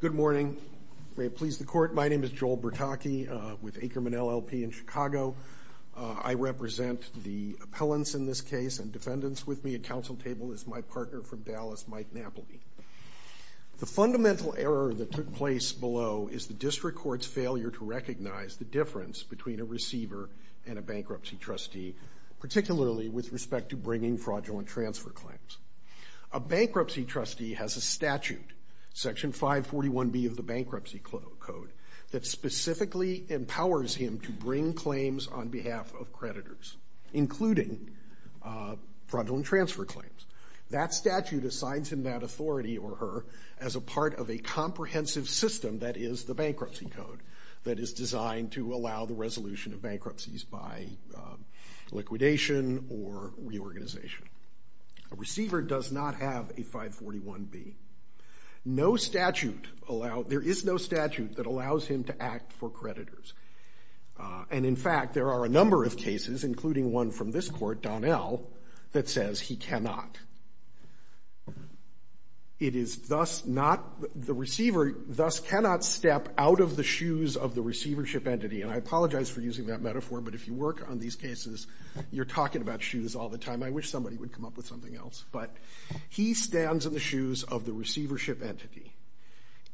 Good morning, may it please the Court, my name is Joel Bertocchi with Akerman LLP in Chicago. I represent the appellants in this case and defendants with me at council table is my partner from Dallas, Mike Napoli. The fundamental error that took place below is the district court's failure to recognize the difference between a receiver and a bankruptcy trustee, particularly with respect to bringing fraudulent transfer claims. A bankruptcy trustee has a statute, Section 541B of the Bankruptcy Code, that specifically empowers him to bring claims on behalf of creditors, including fraudulent transfer claims. That statute assigns him that authority or her as a part of a comprehensive system that is the Bankruptcy Code that is designed to allow the resolution of bankruptcies by liquidation or reorganization. A receiver does not have a 541B. No statute allows, there is no statute that allows him to act for creditors. And in fact, there are a number of cases, including one from this Court, Donnell, that says he cannot. It is thus not, the receiver thus cannot step out of the shoes of the receivership entity. And I apologize for using that metaphor, but if you work on these cases, you're talking about shoes all the time. I wish somebody would come up with something else. But he stands in the shoes of the receivership entity.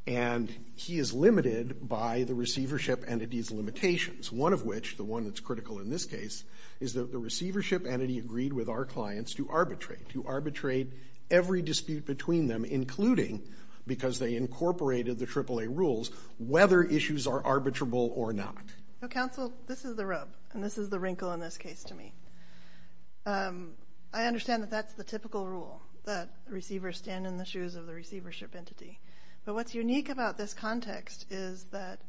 And he is limited by the receivership entity's limitations. One of which, the one that's critical in this case, is that the receivership entity agreed with our clients to arbitrate, to arbitrate every dispute between them, including, because they incorporated the AAA rules, whether issues are arbitrable or not. Counsel, this is the rub, and this is the wrinkle in this case to me. I understand that that's the typical rule, that receivers stand in the shoes of the receivership entity. But what's unique about this context is that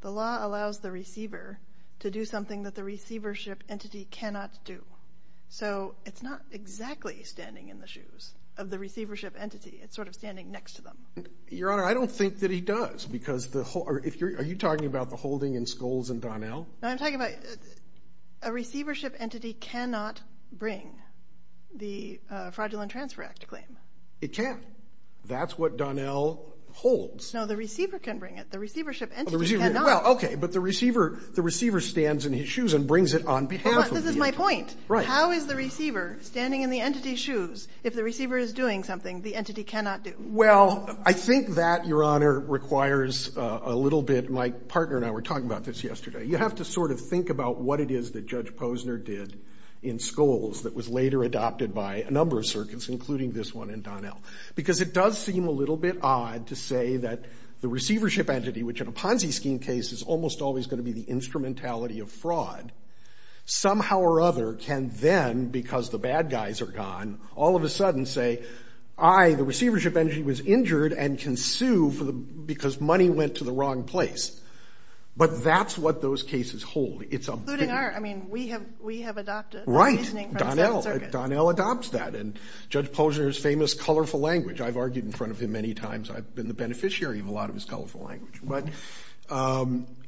the law allows the receiver to do something that the receivership entity cannot do. So it's not exactly standing in the shoes of the receivership entity, it's sort of standing next to them. Your Honor, I don't think that he does, because the whole, are you talking about the holding in Scholes and Donnell? No, I'm talking about, a receivership entity cannot bring the Fraudulent Transfer Act claim. It can't. That's what Donnell holds. No, the receiver can bring it. The receivership entity cannot. Oh, the receiver, well, okay, but the receiver, the receiver stands in his shoes and brings it on behalf of the entity. This is my point. Right. How is the receiver standing in the entity's shoes if the receiver is doing something the entity cannot do? Well, I think that, Your Honor, requires a little bit, my partner and I were talking about this yesterday. You have to sort of think about what it is that Judge Posner did in Scholes that was later adopted by a number of circuits, including this one and Donnell, because it does seem a little bit odd to say that the receivership entity, which in a Ponzi scheme case is almost always going to be the instrumentality of fraud, somehow or other can then, because the bad guys are gone, all of a sudden say, I, the receivership entity, was injured and can sue because money went to the wrong place. But that's what those cases hold. It's a big... Including our... I mean, we have adopted... Right. ...a reasoning from a certain circuit. Donnell adopts that. And Judge Posner's famous colorful language, I've argued in front of him many times, I've been the beneficiary of a lot of his colorful language, but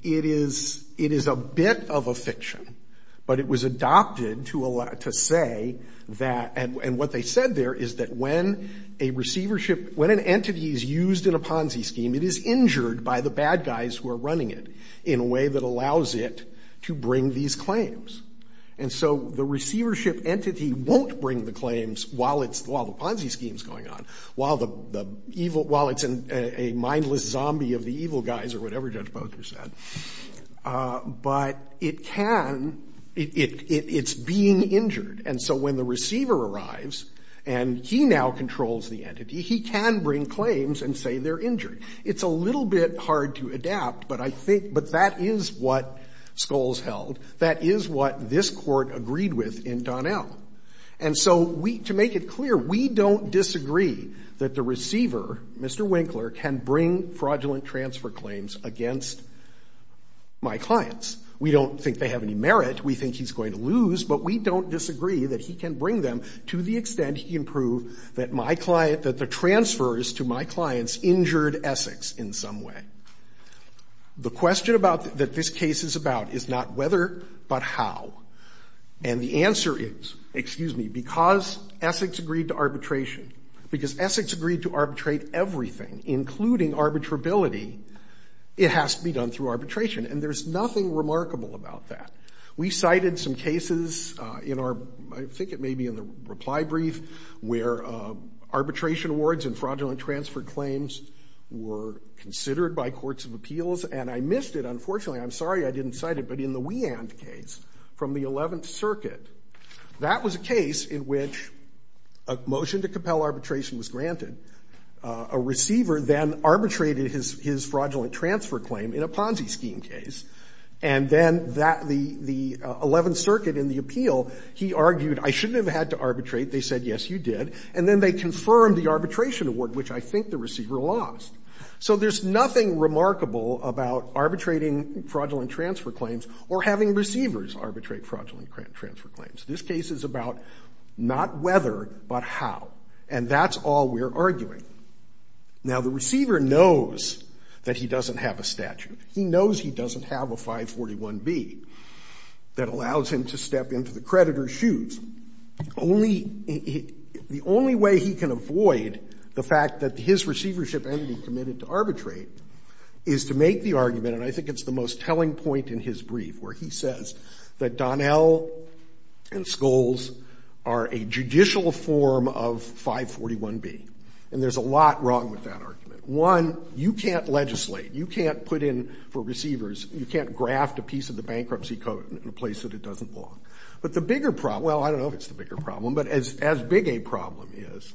it is a bit of a fiction, but it was adopted to say that, and what they said there is that when a receivership entity is used in a Ponzi scheme, it is injured by the bad guys who are running it in a way that allows it to bring these claims. And so the receivership entity won't bring the claims while the Ponzi scheme is going on, while it's a mindless zombie of the evil guys or whatever Judge Posner said. But it can — it's being injured. And so when the receiver arrives and he now controls the entity, he can bring claims and say they're injured. It's a little bit hard to adapt, but I think — but that is what Scholes held. That is what this Court agreed with in Donnell. And so we — to make it clear, we don't disagree that the receiver, Mr. Winkler, can bring fraudulent transfer claims against my clients. We don't think they have any merit. We think he's going to lose, but we don't disagree that he can bring them to the extent he can prove that my client — that the transfers to my clients injured Essex in some way. The question about — that this case is about is not whether, but how. And the answer is, excuse me, because Essex agreed to arbitration, because Essex agreed to arbitrate everything, including arbitrability, it has to be done through arbitration. And there's nothing remarkable about that. We cited some cases in our — I think it may be in the reply brief, where arbitration awards and fraudulent transfer claims were considered by courts of appeals. And I missed it, unfortunately. I'm sorry I didn't cite it. But in the Weand case from the Eleventh Circuit, that was a case in which a motion to compel arbitration was granted. A receiver then arbitrated his fraudulent transfer claim in a Ponzi scheme case. And then that — the Eleventh Circuit in the appeal, he argued, I shouldn't have had to arbitrate. They said, yes, you did. And then they confirmed the arbitration award, which I think the receiver lost. So there's nothing remarkable about arbitrating fraudulent transfer claims or having receivers arbitrate fraudulent transfer claims. This case is about not whether, but how. And that's all we're arguing. Now, the receiver knows that he doesn't have a statute. He knows he doesn't have a 541B that allows him to step into the creditor's shoes. Only — the only way he can avoid the fact that his receivership entity committed to arbitrate is to make the argument, and I think it's the most telling point in his argument, that Skolls and Skolls are a judicial form of 541B. And there's a lot wrong with that argument. One, you can't legislate. You can't put in for receivers — you can't graft a piece of the bankruptcy code in a place that it doesn't belong. But the bigger problem — well, I don't know if it's the bigger problem, but as big a problem is,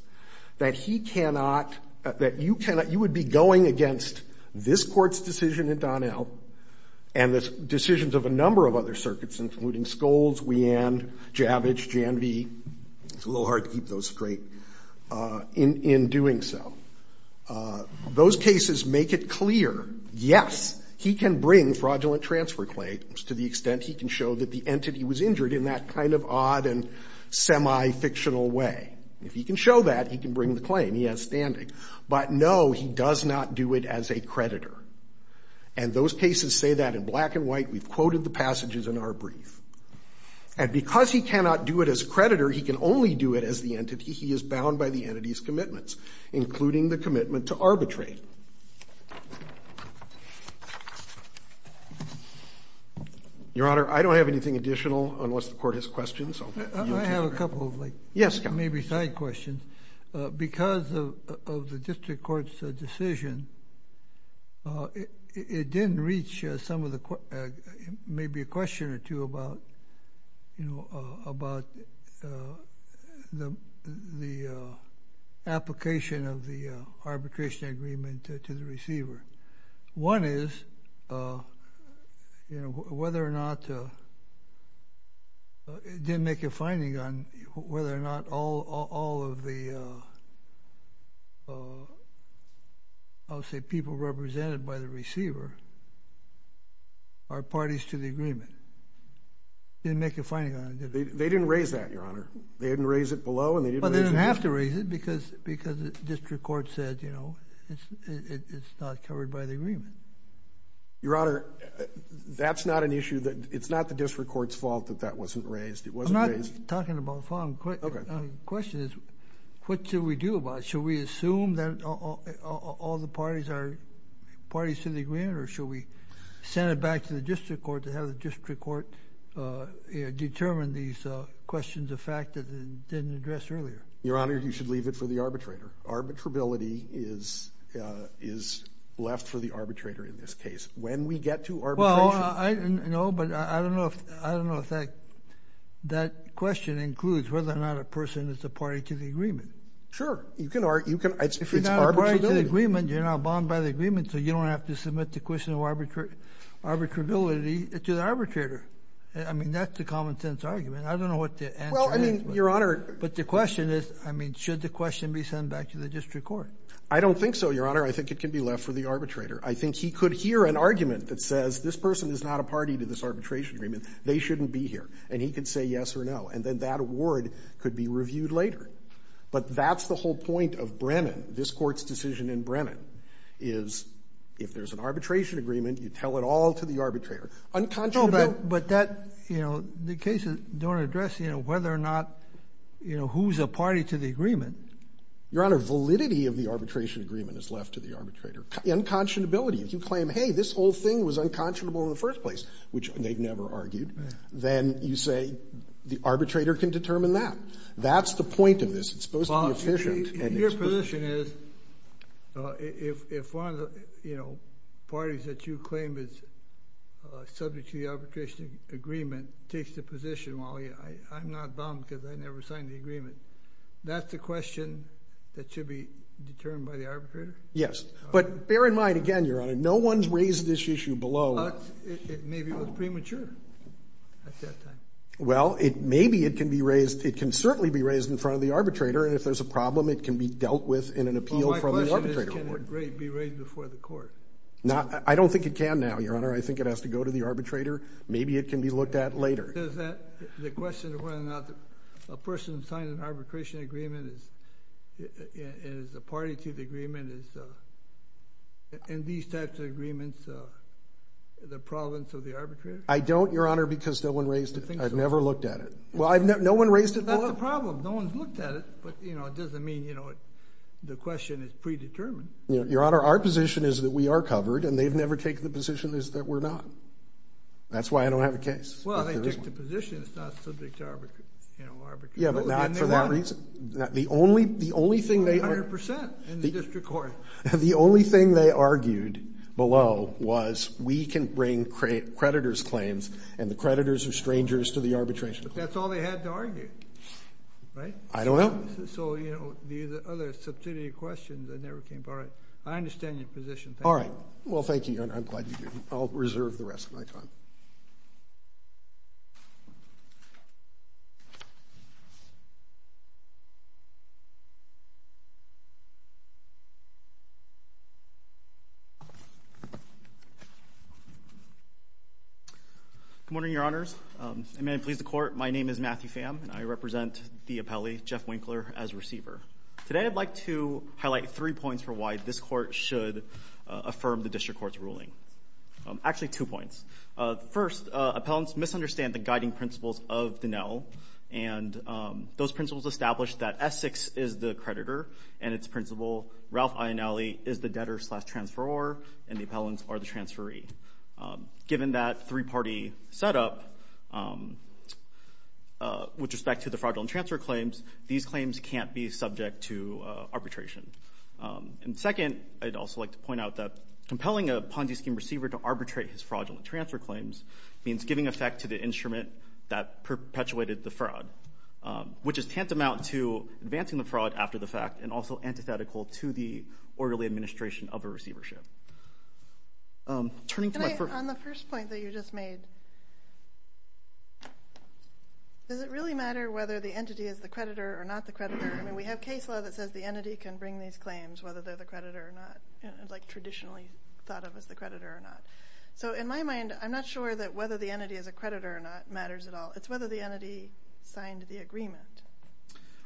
that he cannot — that you cannot — you would be going against this Court's decision in Donnell and the decisions of a number of other circuits, including Skolls, Weand, Javich, Janvee — it's a little hard to keep those straight — in doing so. Those cases make it clear, yes, he can bring fraudulent transfer claims to the extent he can show that the entity was injured in that kind of odd and semi-fictional way. If he can show that, he can bring the claim. He has standing. But no, he does not do it as a creditor. And those cases say that in black and white. We've quoted the passages in our brief. And because he cannot do it as creditor, he can only do it as the entity. He is bound by the entity's commitments, including the commitment to arbitrate. Your Honor, I don't have anything additional unless the Court has questions. I'll let you take them. I have a couple of, like, maybe side questions. Because of the district court's decision, it didn't reach some of the — maybe a question or two about, you know, about the application of the arbitration agreement to the receiver. One is, you know, whether or not — it didn't make a finding on whether or not all of the, I'll say, people represented by the receiver are parties to the agreement. It didn't make a finding on it, did it? They didn't raise that, Your Honor. They didn't raise it below, and they didn't raise it — Well, they didn't have to raise it, because the district court said, you know, it was covered by the agreement. Your Honor, that's not an issue that — it's not the district court's fault that that wasn't raised. It wasn't raised — I'm not talking about the following question. Okay. The question is, what should we do about it? Should we assume that all the parties are parties to the agreement, or should we send it back to the district court to have the district court determine these questions of fact that it didn't address earlier? Your Honor, you should leave it for the arbitrator. Arbitrability is — is left for the arbitrator in this case. When we get to arbitration — Well, I — no, but I don't know if — I don't know if that — that question includes whether or not a person is a party to the agreement. Sure. You can — you can — it's arbitrability. If you're not a party to the agreement, you're not bound by the agreement, so you don't have to submit the question of arbitrability to the arbitrator. I mean, that's the common-sense argument. I don't know what the answer is, but — Well, I mean, Your Honor — But the question is, I mean, should the question be sent back to the district court? I don't think so, Your Honor. I think it can be left for the arbitrator. I think he could hear an argument that says, this person is not a party to this arbitration agreement. They shouldn't be here. And he could say yes or no, and then that award could be reviewed later. But that's the whole point of Brennan, this Court's decision in Brennan, is if there's an arbitration agreement, you tell it all to the arbitrator. Unconscionable — You know, who's a party to the agreement? Your Honor, validity of the arbitration agreement is left to the arbitrator. Unconscionability — if you claim, hey, this whole thing was unconscionable in the first place, which they've never argued, then you say the arbitrator can determine that. That's the point of this. It's supposed to be efficient and — Well, your position is, if one of the, you know, parties that you claim is subject to the arbitration agreement takes the position, well, I'm not bound because I never signed the agreement. That's the question that should be determined by the arbitrator? Yes. But bear in mind, again, your Honor, no one's raised this issue below — But it maybe was premature at that time. Well, it — maybe it can be raised — it can certainly be raised in front of the arbitrator, and if there's a problem, it can be dealt with in an appeal from the arbitrator. Well, my question is, can it be raised before the Court? Not — I don't think it can now, your Honor. I think it has to go to the arbitrator. Maybe it can be looked at later. Does that — the question of whether or not a person signed an arbitration agreement is a party to the agreement is — in these types of agreements, the province or the arbitrator? I don't, your Honor, because no one raised it. I've never looked at it. Well, I've never — no one raised it — Well, that's the problem. No one's looked at it, but, you know, it doesn't mean, you know, the question is predetermined. Your Honor, our position is that we are covered, and they've never taken the position is that we're not. That's why I don't have a case. Well, they took the position it's not subject to, you know, arbitration. Yeah, but not for that reason. The only — the only thing they — A hundred percent in the district court. The only thing they argued below was we can bring creditors' claims, and the creditors are strangers to the arbitration. But that's all they had to argue, right? I don't know. So, you know, the other substantive questions that never came — all right. I understand your position. All right. Well, thank you, your Honor. I'm glad you do. I'll reserve the rest of my time. Thank you. Good morning, your Honors, and may it please the Court, my name is Matthew Pham, and I represent the appellee, Jeff Winkler, as receiver. Today, I'd like to highlight three points for why this court should affirm the district court's ruling. Actually, two points. First, appellants misunderstand the guiding principles of Dinell, and those principles establish that Essex is the creditor, and its principal, Ralph Ionelli, is the debtor-slash-transferor, and the appellants are the transferee. Given that three-party setup, with respect to the fraudulent transfer claims, these claims can't be subject to arbitration. And second, I'd also like to point out that compelling a Ponzi scheme receiver to arbitrate his fraudulent transfer claims means giving effect to the instrument that perpetuated the fraud, which is tantamount to advancing the fraud after the fact, and also antithetical to the orderly administration of a receivership. Turning to my first- Can I, on the first point that you just made, does it really matter whether the entity is the creditor or not the creditor? I mean, we have case law that says the entity can bring these claims, whether the creditor or not, like traditionally thought of as the creditor or not. So in my mind, I'm not sure that whether the entity is a creditor or not matters at all. It's whether the entity signed the agreement.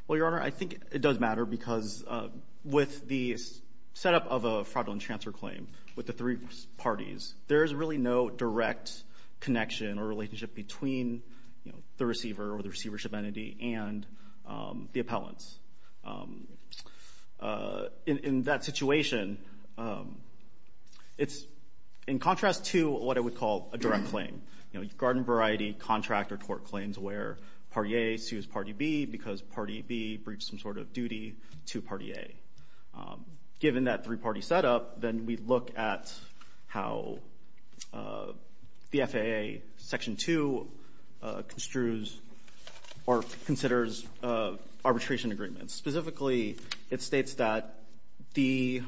Well, Your Honor, I think it does matter, because with the setup of a fraudulent transfer claim, with the three parties, there's really no direct connection or relationship between the receiver or the receivership entity and the appellants. In that situation, it's in contrast to what I would call a direct claim. You know, garden variety, contract, or tort claims where party A sues party B because party B breached some sort of duty to party A. Given that three-party setup, then we look at how the FAA Section 2 construes or considers arbitration agreements. Specifically, it states that the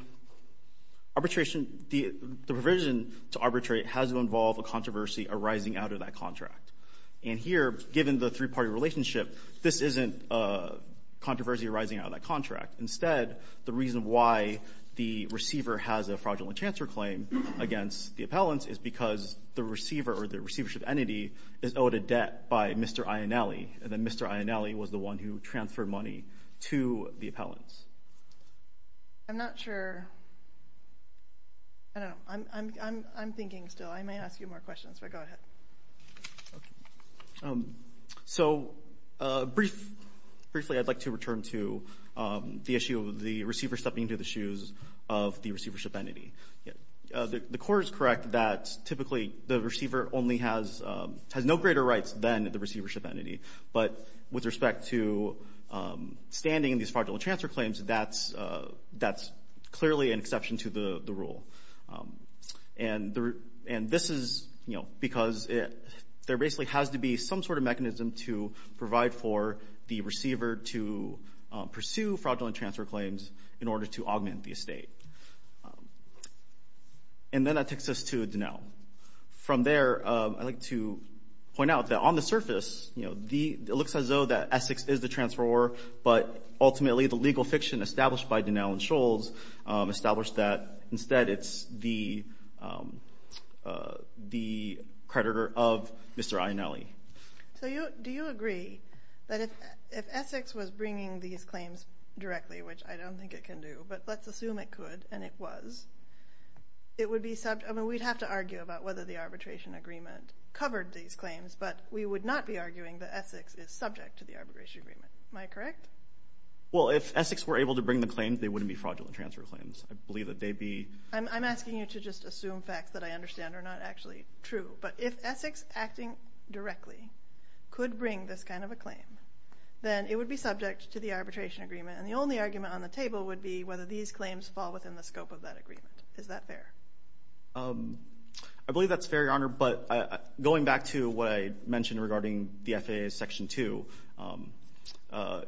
provision to arbitrate has to involve a controversy arising out of that contract. And here, given the three-party relationship, this isn't a controversy arising out of that contract. Instead, the reason why the receiver has a fraudulent transfer claim against the appellants is because the receiver or the receivership entity is owed a debt by Mr. Ionale, and then Mr. Ionale was the one who transferred money to the appellants. I'm not sure. I don't know. I'm thinking still. I may ask you more questions, but go ahead. So briefly, I'd like to return to the issue of the receiver stepping into the shoes of the receivership entity. The court is correct that typically the receiver only has no greater rights than the receivership entity, but with respect to standing in these fraudulent transfer claims, that's clearly an exception to the rule. And this is because there basically has to be some sort of mechanism to provide for the receiver to pursue fraudulent transfer claims in order to augment the And then that takes us to Dinell. From there, I'd like to point out that on the surface, it looks as though that Essex is the transferor, but ultimately the legal fiction established by Dinell and Scholz established that instead it's the creditor of Mr. Ionale. So do you agree that if Essex was bringing these claims directly, which I It would be subject, I mean, we'd have to argue about whether the arbitration agreement covered these claims, but we would not be arguing that Essex is subject to the arbitration agreement. Am I correct? Well, if Essex were able to bring the claims, they wouldn't be fraudulent transfer claims. I believe that they'd be. I'm asking you to just assume facts that I understand are not actually true. But if Essex acting directly could bring this kind of a claim, then it would be subject to the arbitration agreement. And the only argument on the table would be whether these claims fall within the scope of that agreement. Is that fair? I believe that's fair, Your Honor, but going back to what I mentioned regarding the FAA's Section 2, I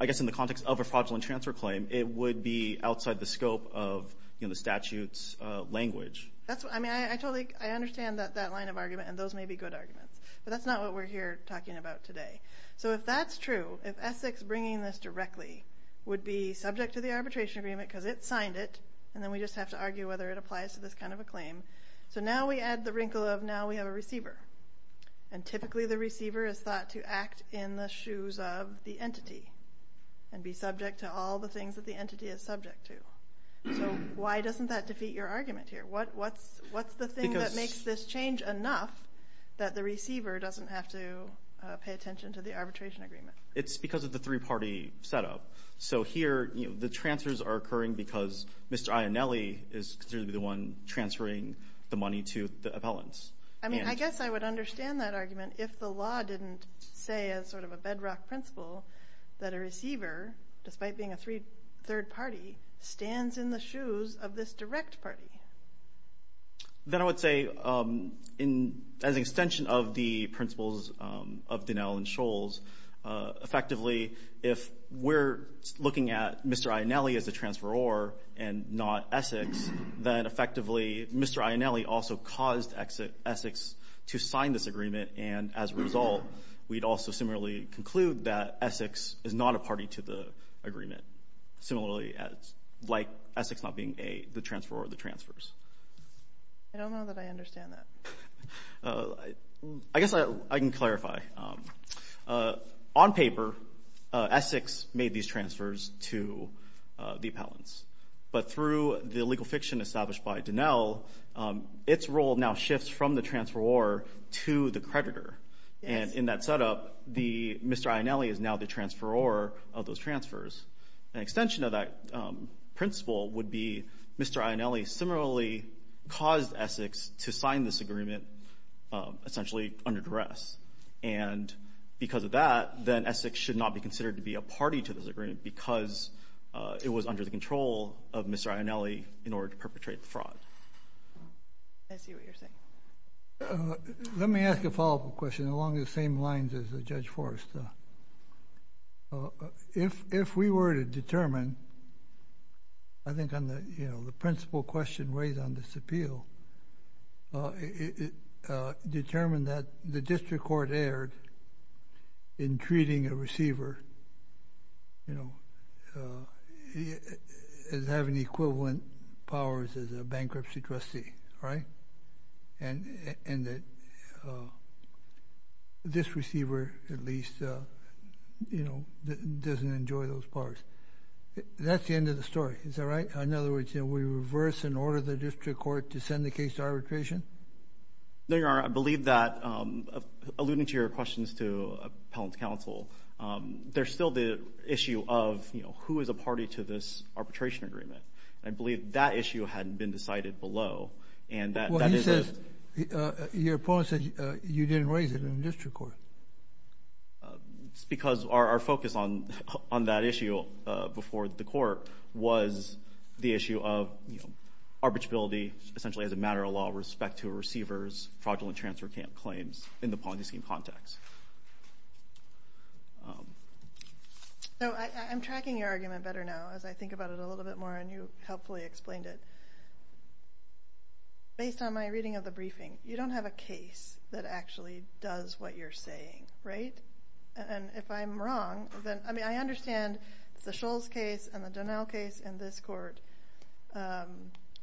guess in the context of a fraudulent transfer claim, it would be outside the scope of the statute's language. That's what, I mean, I totally, I understand that line of argument and those may be good arguments, but that's not what we're here talking about today. So if that's true, if Essex bringing this directly would be subject to the arbitration agreement, I would argue whether it applies to this kind of a claim. So now we add the wrinkle of now we have a receiver. And typically the receiver is thought to act in the shoes of the entity and be subject to all the things that the entity is subject to. So why doesn't that defeat your argument here? What's the thing that makes this change enough that the receiver doesn't have to pay attention to the arbitration agreement? It's because of the three-party setup. So here, the transfers are occurring because Mr. Ionelli is considered to be the one transferring the money to the appellants. I mean, I guess I would understand that argument if the law didn't say, as sort of a bedrock principle, that a receiver, despite being a third party, stands in the shoes of this direct party. Then I would say, as an extension of the principles of Dinell and if we're looking at Mr. Ionelli as a transferor and not Essex, then effectively Mr. Ionelli also caused Essex to sign this agreement. And as a result, we'd also similarly conclude that Essex is not a party to the agreement, similarly as like Essex not being the transferor of the transfers. I don't know that I understand that. I guess I can clarify. On paper, Essex made these transfers to the appellants. But through the legal fiction established by Dinell, its role now shifts from the transferor to the creditor. And in that setup, Mr. Ionelli is now the transferor of those transfers. An extension of that principle would be Mr. Ionelli similarly caused Essex to sign this agreement essentially under duress. And because of that, then Essex should not be considered to be a party to this agreement because it was under the control of Mr. Ionelli in order to perpetrate fraud. I see what you're saying. Let me ask a follow-up question along the same lines as Judge Forrest. If we were to determine, I think on the principle question raised on this appeal, if we were to determine that the district court erred in treating a receiver as having equivalent powers as a bankruptcy trustee, right? And that this receiver, at least, doesn't enjoy those powers. That's the end of the story, is that right? In other words, we reverse and order the district court to send the case to arbitration? No, Your Honor. I believe that, alluding to your questions to appellant counsel, there's still the issue of who is a party to this arbitration agreement. I believe that issue hadn't been decided below. And that is- Well, he says, your opponent says you didn't raise it in the district court. It's because our focus on that issue before the court was the issue of arbitrability, essentially as a matter of law, respect to a receiver's fraudulent transfer claims in the policy scheme context. So I'm tracking your argument better now as I think about it a little bit more, and you helpfully explained it. Based on my reading of the briefing, you don't have a case that actually does what you're saying, right? And if I'm wrong, then, I mean, I understand the Scholl's case and the Donnell case in this court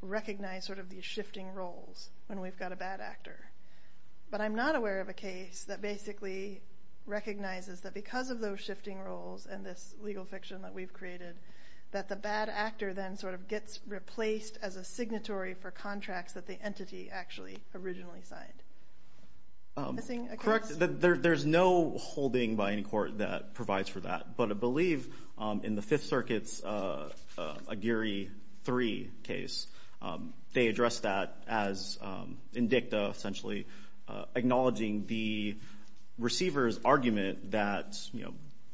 recognize sort of these shifting roles when we've got a bad actor. But I'm not aware of a case that basically recognizes that because of those shifting roles and this legal fiction that we've created, that the bad actor then sort of gets replaced as a signatory for contracts that the entity actually originally signed. I'm missing a case. Correct. There's no holding by any court that provides for that. But I believe in the Fifth Circuit's Aguirre 3 case, they addressed that as indicta, essentially acknowledging the receiver's argument that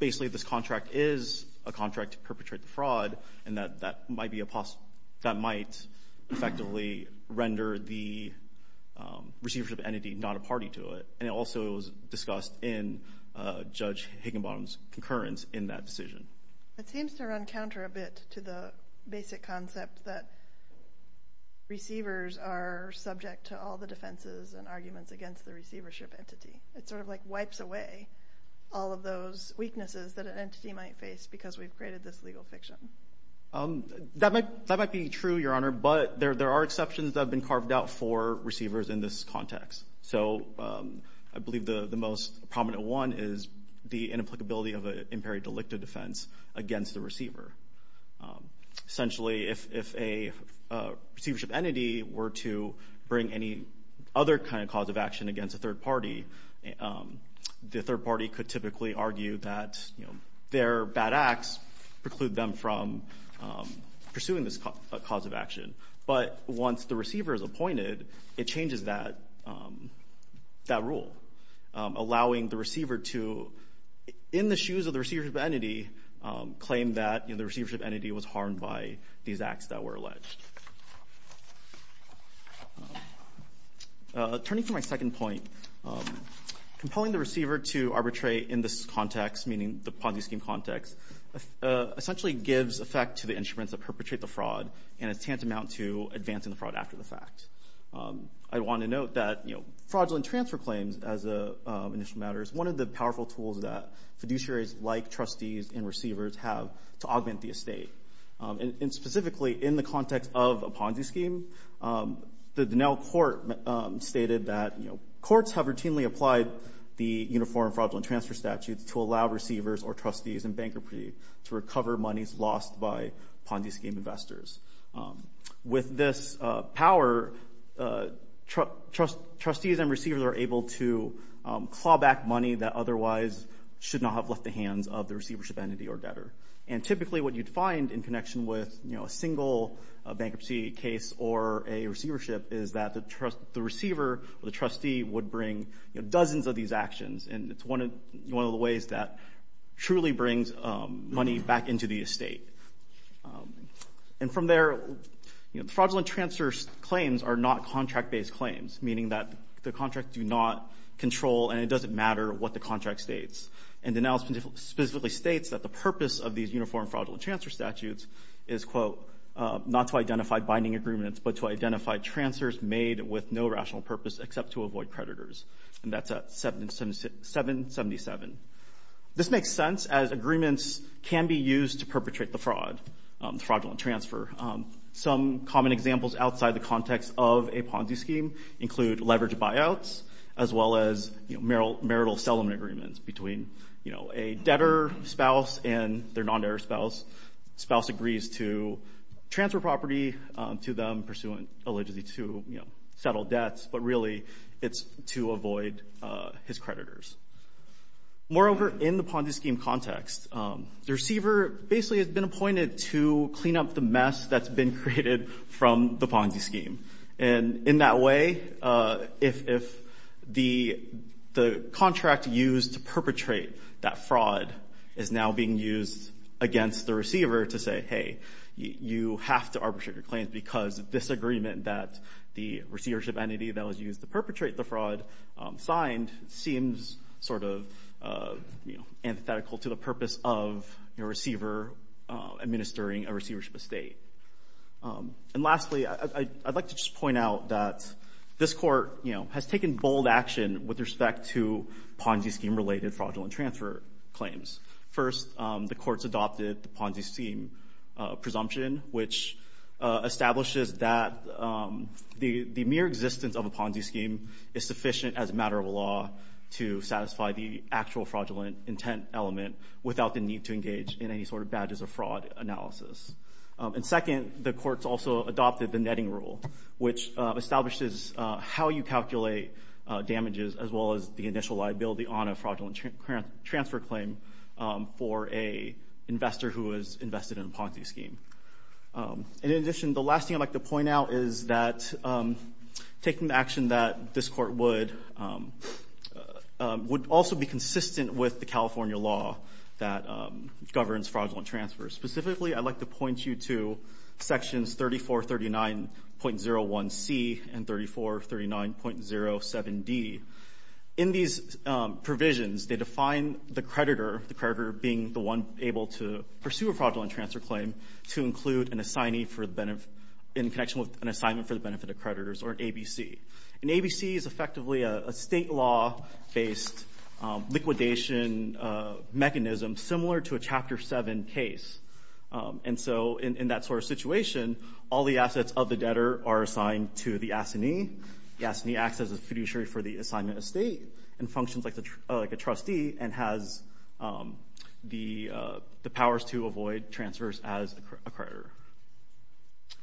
basically this contract is a contract to perpetrate the fraud, and that might effectively render the receivership entity not a party to it. And also, it was discussed in Judge Higginbottom's concurrence in that decision. It seems to run counter a bit to the basic concept that receivers are subject to all the defenses and arguments against the receivership entity. It sort of like wipes away all of those weaknesses that an entity might face because we've created this legal fiction. That might be true, Your Honor, but there are exceptions that have been laid out for receivers in this context. So, I believe the most prominent one is the inapplicability of an imperi delicta defense against the receiver. Essentially, if a receivership entity were to bring any other kind of cause of action against a third party, the third party could typically argue that their But once the receiver is appointed, it changes that rule, allowing the receiver to, in the shoes of the receivership entity, claim that the receivership entity was harmed by these acts that were alleged. Turning to my second point, compelling the receiver to arbitrate in this context, meaning the Ponzi scheme context, essentially gives effect to the instruments that perpetrate the fraud and a tantamount to advancing the fraud after the fact. I want to note that fraudulent transfer claims, as an initial matter, is one of the powerful tools that fiduciaries like trustees and receivers have to augment the estate. And specifically, in the context of a Ponzi scheme, the Dinell Court stated that courts have routinely applied the uniform fraudulent transfer statutes to allow receivers or trustees in bankruptcy to recover monies lost by Ponzi scheme investors. With this power, trustees and receivers are able to claw back money that otherwise should not have left the hands of the receivership entity or debtor. And typically, what you'd find in connection with a single bankruptcy case or a receivership is that the receiver or the trustee would bring dozens of these actions. And it's one of the ways that truly brings money back into the estate. And from there, fraudulent transfer claims are not contract-based claims, meaning that the contract do not control, and it doesn't matter what the contract states. And Dinell specifically states that the purpose of these uniform fraudulent transfer statutes is, quote, not to identify binding agreements, but to identify transfers made with no rational purpose except to avoid creditors. And that's at 777. This makes sense as agreements can be used to perpetrate the fraud, fraudulent transfer. Some common examples outside the context of a Ponzi scheme include leverage buyouts, as well as marital settlement agreements between a debtor spouse and their non-debtor spouse. Spouse agrees to transfer property to them pursuant allegedly to settle debts, but really it's to avoid his creditors. Moreover, in the Ponzi scheme context, the receiver basically has been appointed to clean up the mess that's been created from the Ponzi scheme. And in that way, if the contract used to perpetrate that fraud is now being used against the receiver to say, hey, you have to arbitrate your claims because this agreement that the receivership entity that was used to perpetrate the fraud signed seems sort of antithetical to the purpose of your receiver administering a receivership estate. And lastly, I'd like to just point out that this court has taken bold action with respect to Ponzi scheme related fraudulent transfer claims. First, the courts adopted the Ponzi scheme presumption, which establishes that the mere existence of a Ponzi scheme is sufficient as a matter of law to satisfy the actual fraudulent intent element without the need to engage in any sort of badges of fraud analysis. And second, the courts also adopted the netting rule, which establishes how you calculate damages as well as the initial liability on a fraudulent transfer claim for a investor who has invested in a Ponzi scheme. In addition, the last thing I'd like to point out is that taking action that this court would also be consistent with the California law that governs fraudulent transfers. Specifically, I'd like to point you to sections 3439.01C and 3439.07D. In these provisions, they define the creditor, the creditor being the one able to pursue a fraudulent transfer claim to include an assignee in connection with an assignment for the benefit of creditors, or an ABC. An ABC is effectively a state law-based liquidation mechanism similar to a Chapter 7 case. And so in that sort of situation, all the assets of the debtor are assigned to the assignee. The assignee acts as a fiduciary for the assignment of state and functions like a trustee and has the powers to avoid transfers as a creditor.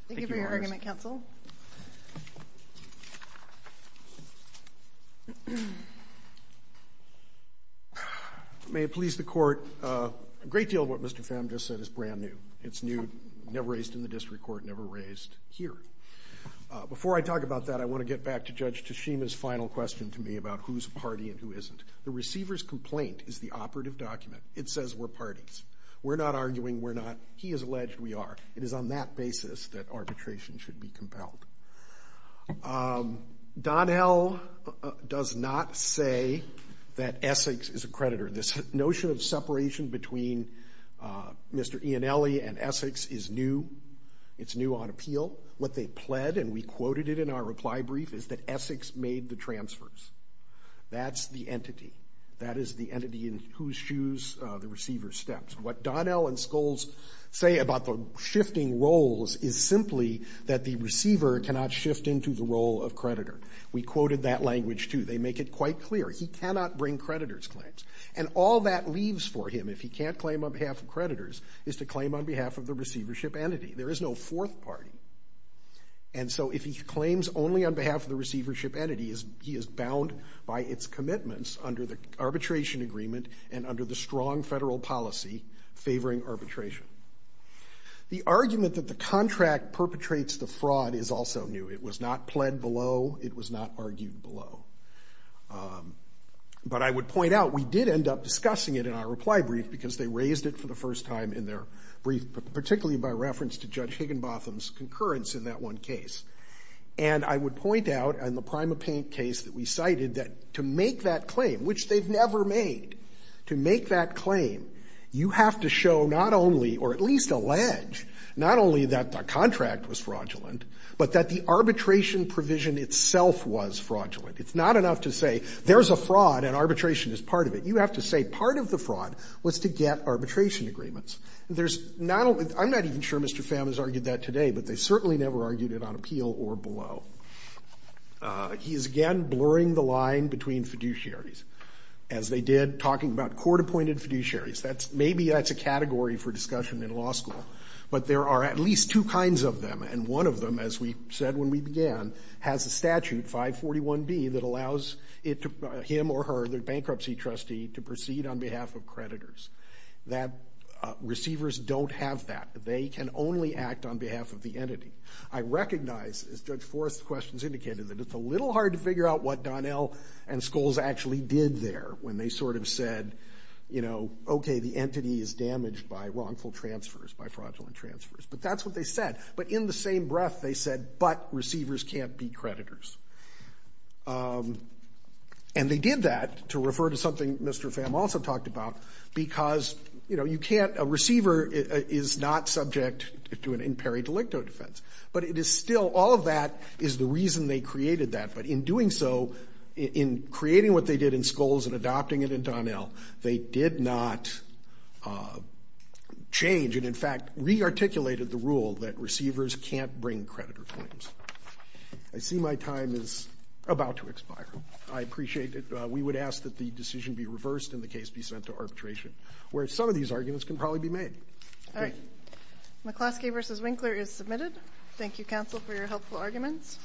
Thank you, lawyers. Thank you for your argument, counsel. May it please the court, a great deal of what Mr. Pham just said is brand new. It's new, never raised in the district court, never raised here. Before I talk about that, I want to get back to Judge Tashima's final question to me about who's a party and who isn't. The receiver's complaint is the operative document. It says we're parties. We're not arguing, we're not. He has alleged we are. It is on that basis that arbitration should be compelled. Donnell does not say that Essex is a creditor. This notion of separation between Mr. Ianelli and the plead, and we quoted it in our reply brief, is that Essex made the transfers. That's the entity. That is the entity in whose shoes the receiver steps. What Donnell and Scholes say about the shifting roles is simply that the receiver cannot shift into the role of creditor. We quoted that language too. They make it quite clear. He cannot bring creditor's claims. And all that leaves for him, if he can't claim on behalf of creditors, is to claim on behalf of the receivership entity. There is no fourth party. And so if he claims only on behalf of the receivership entity, he is bound by its commitments under the arbitration agreement and under the strong federal policy favoring arbitration. The argument that the contract perpetrates the fraud is also new. It was not pled below. It was not argued below. But I would point out, we did end up discussing it in our reply brief because they raised it for the first time in their brief, particularly by reference to Judge Higginbotham's concurrence in that one case. And I would point out in the PrimaPaint case that we cited that to make that claim, which they've never made, to make that claim, you have to show not only, or at least allege, not only that the contract was fraudulent, but that the arbitration provision itself was fraudulent. It's not enough to say there's a fraud and arbitration is part of it. You have to say part of the fraud was to get arbitration agreements. There's not a, I'm not even sure Mr. Pham has argued that today, but they certainly never argued it on appeal or below. He is again blurring the line between fiduciaries. As they did talking about court-appointed fiduciaries. That's, maybe that's a category for discussion in law school. But there are at least two kinds of them, and one of them, as we said when we began, has a statute, 541B, that allows it to, him or her, the bankruptcy trustee, to proceed on behalf of creditors. That receivers don't have that. They can only act on behalf of the entity. I recognize, as Judge Forrest's questions indicated, that it's a little hard to figure out what Donnell and Scholes actually did there when they sort of said, you know, okay, the entity is damaged by wrongful transfers, by fraudulent transfers. But that's what they said. But in the same breath, they said, but receivers can't be creditors. And they did that to refer to something Mr. Pham also talked about. Because, you know, you can't, a receiver is not subject to an in pari delicto defense. But it is still, all of that is the reason they created that. But in doing so, in creating what they did in Scholes and adopting it in Donnell, they did not change, and in fact, re-articulated the rule that receivers can't bring creditor claims. I see my time is about to expire. I appreciate it. We would ask that the decision be reversed and the case be sent to arbitration. Where some of these arguments can probably be made. All right. McCloskey versus Winkler is submitted. Thank you, counsel, for your helpful arguments.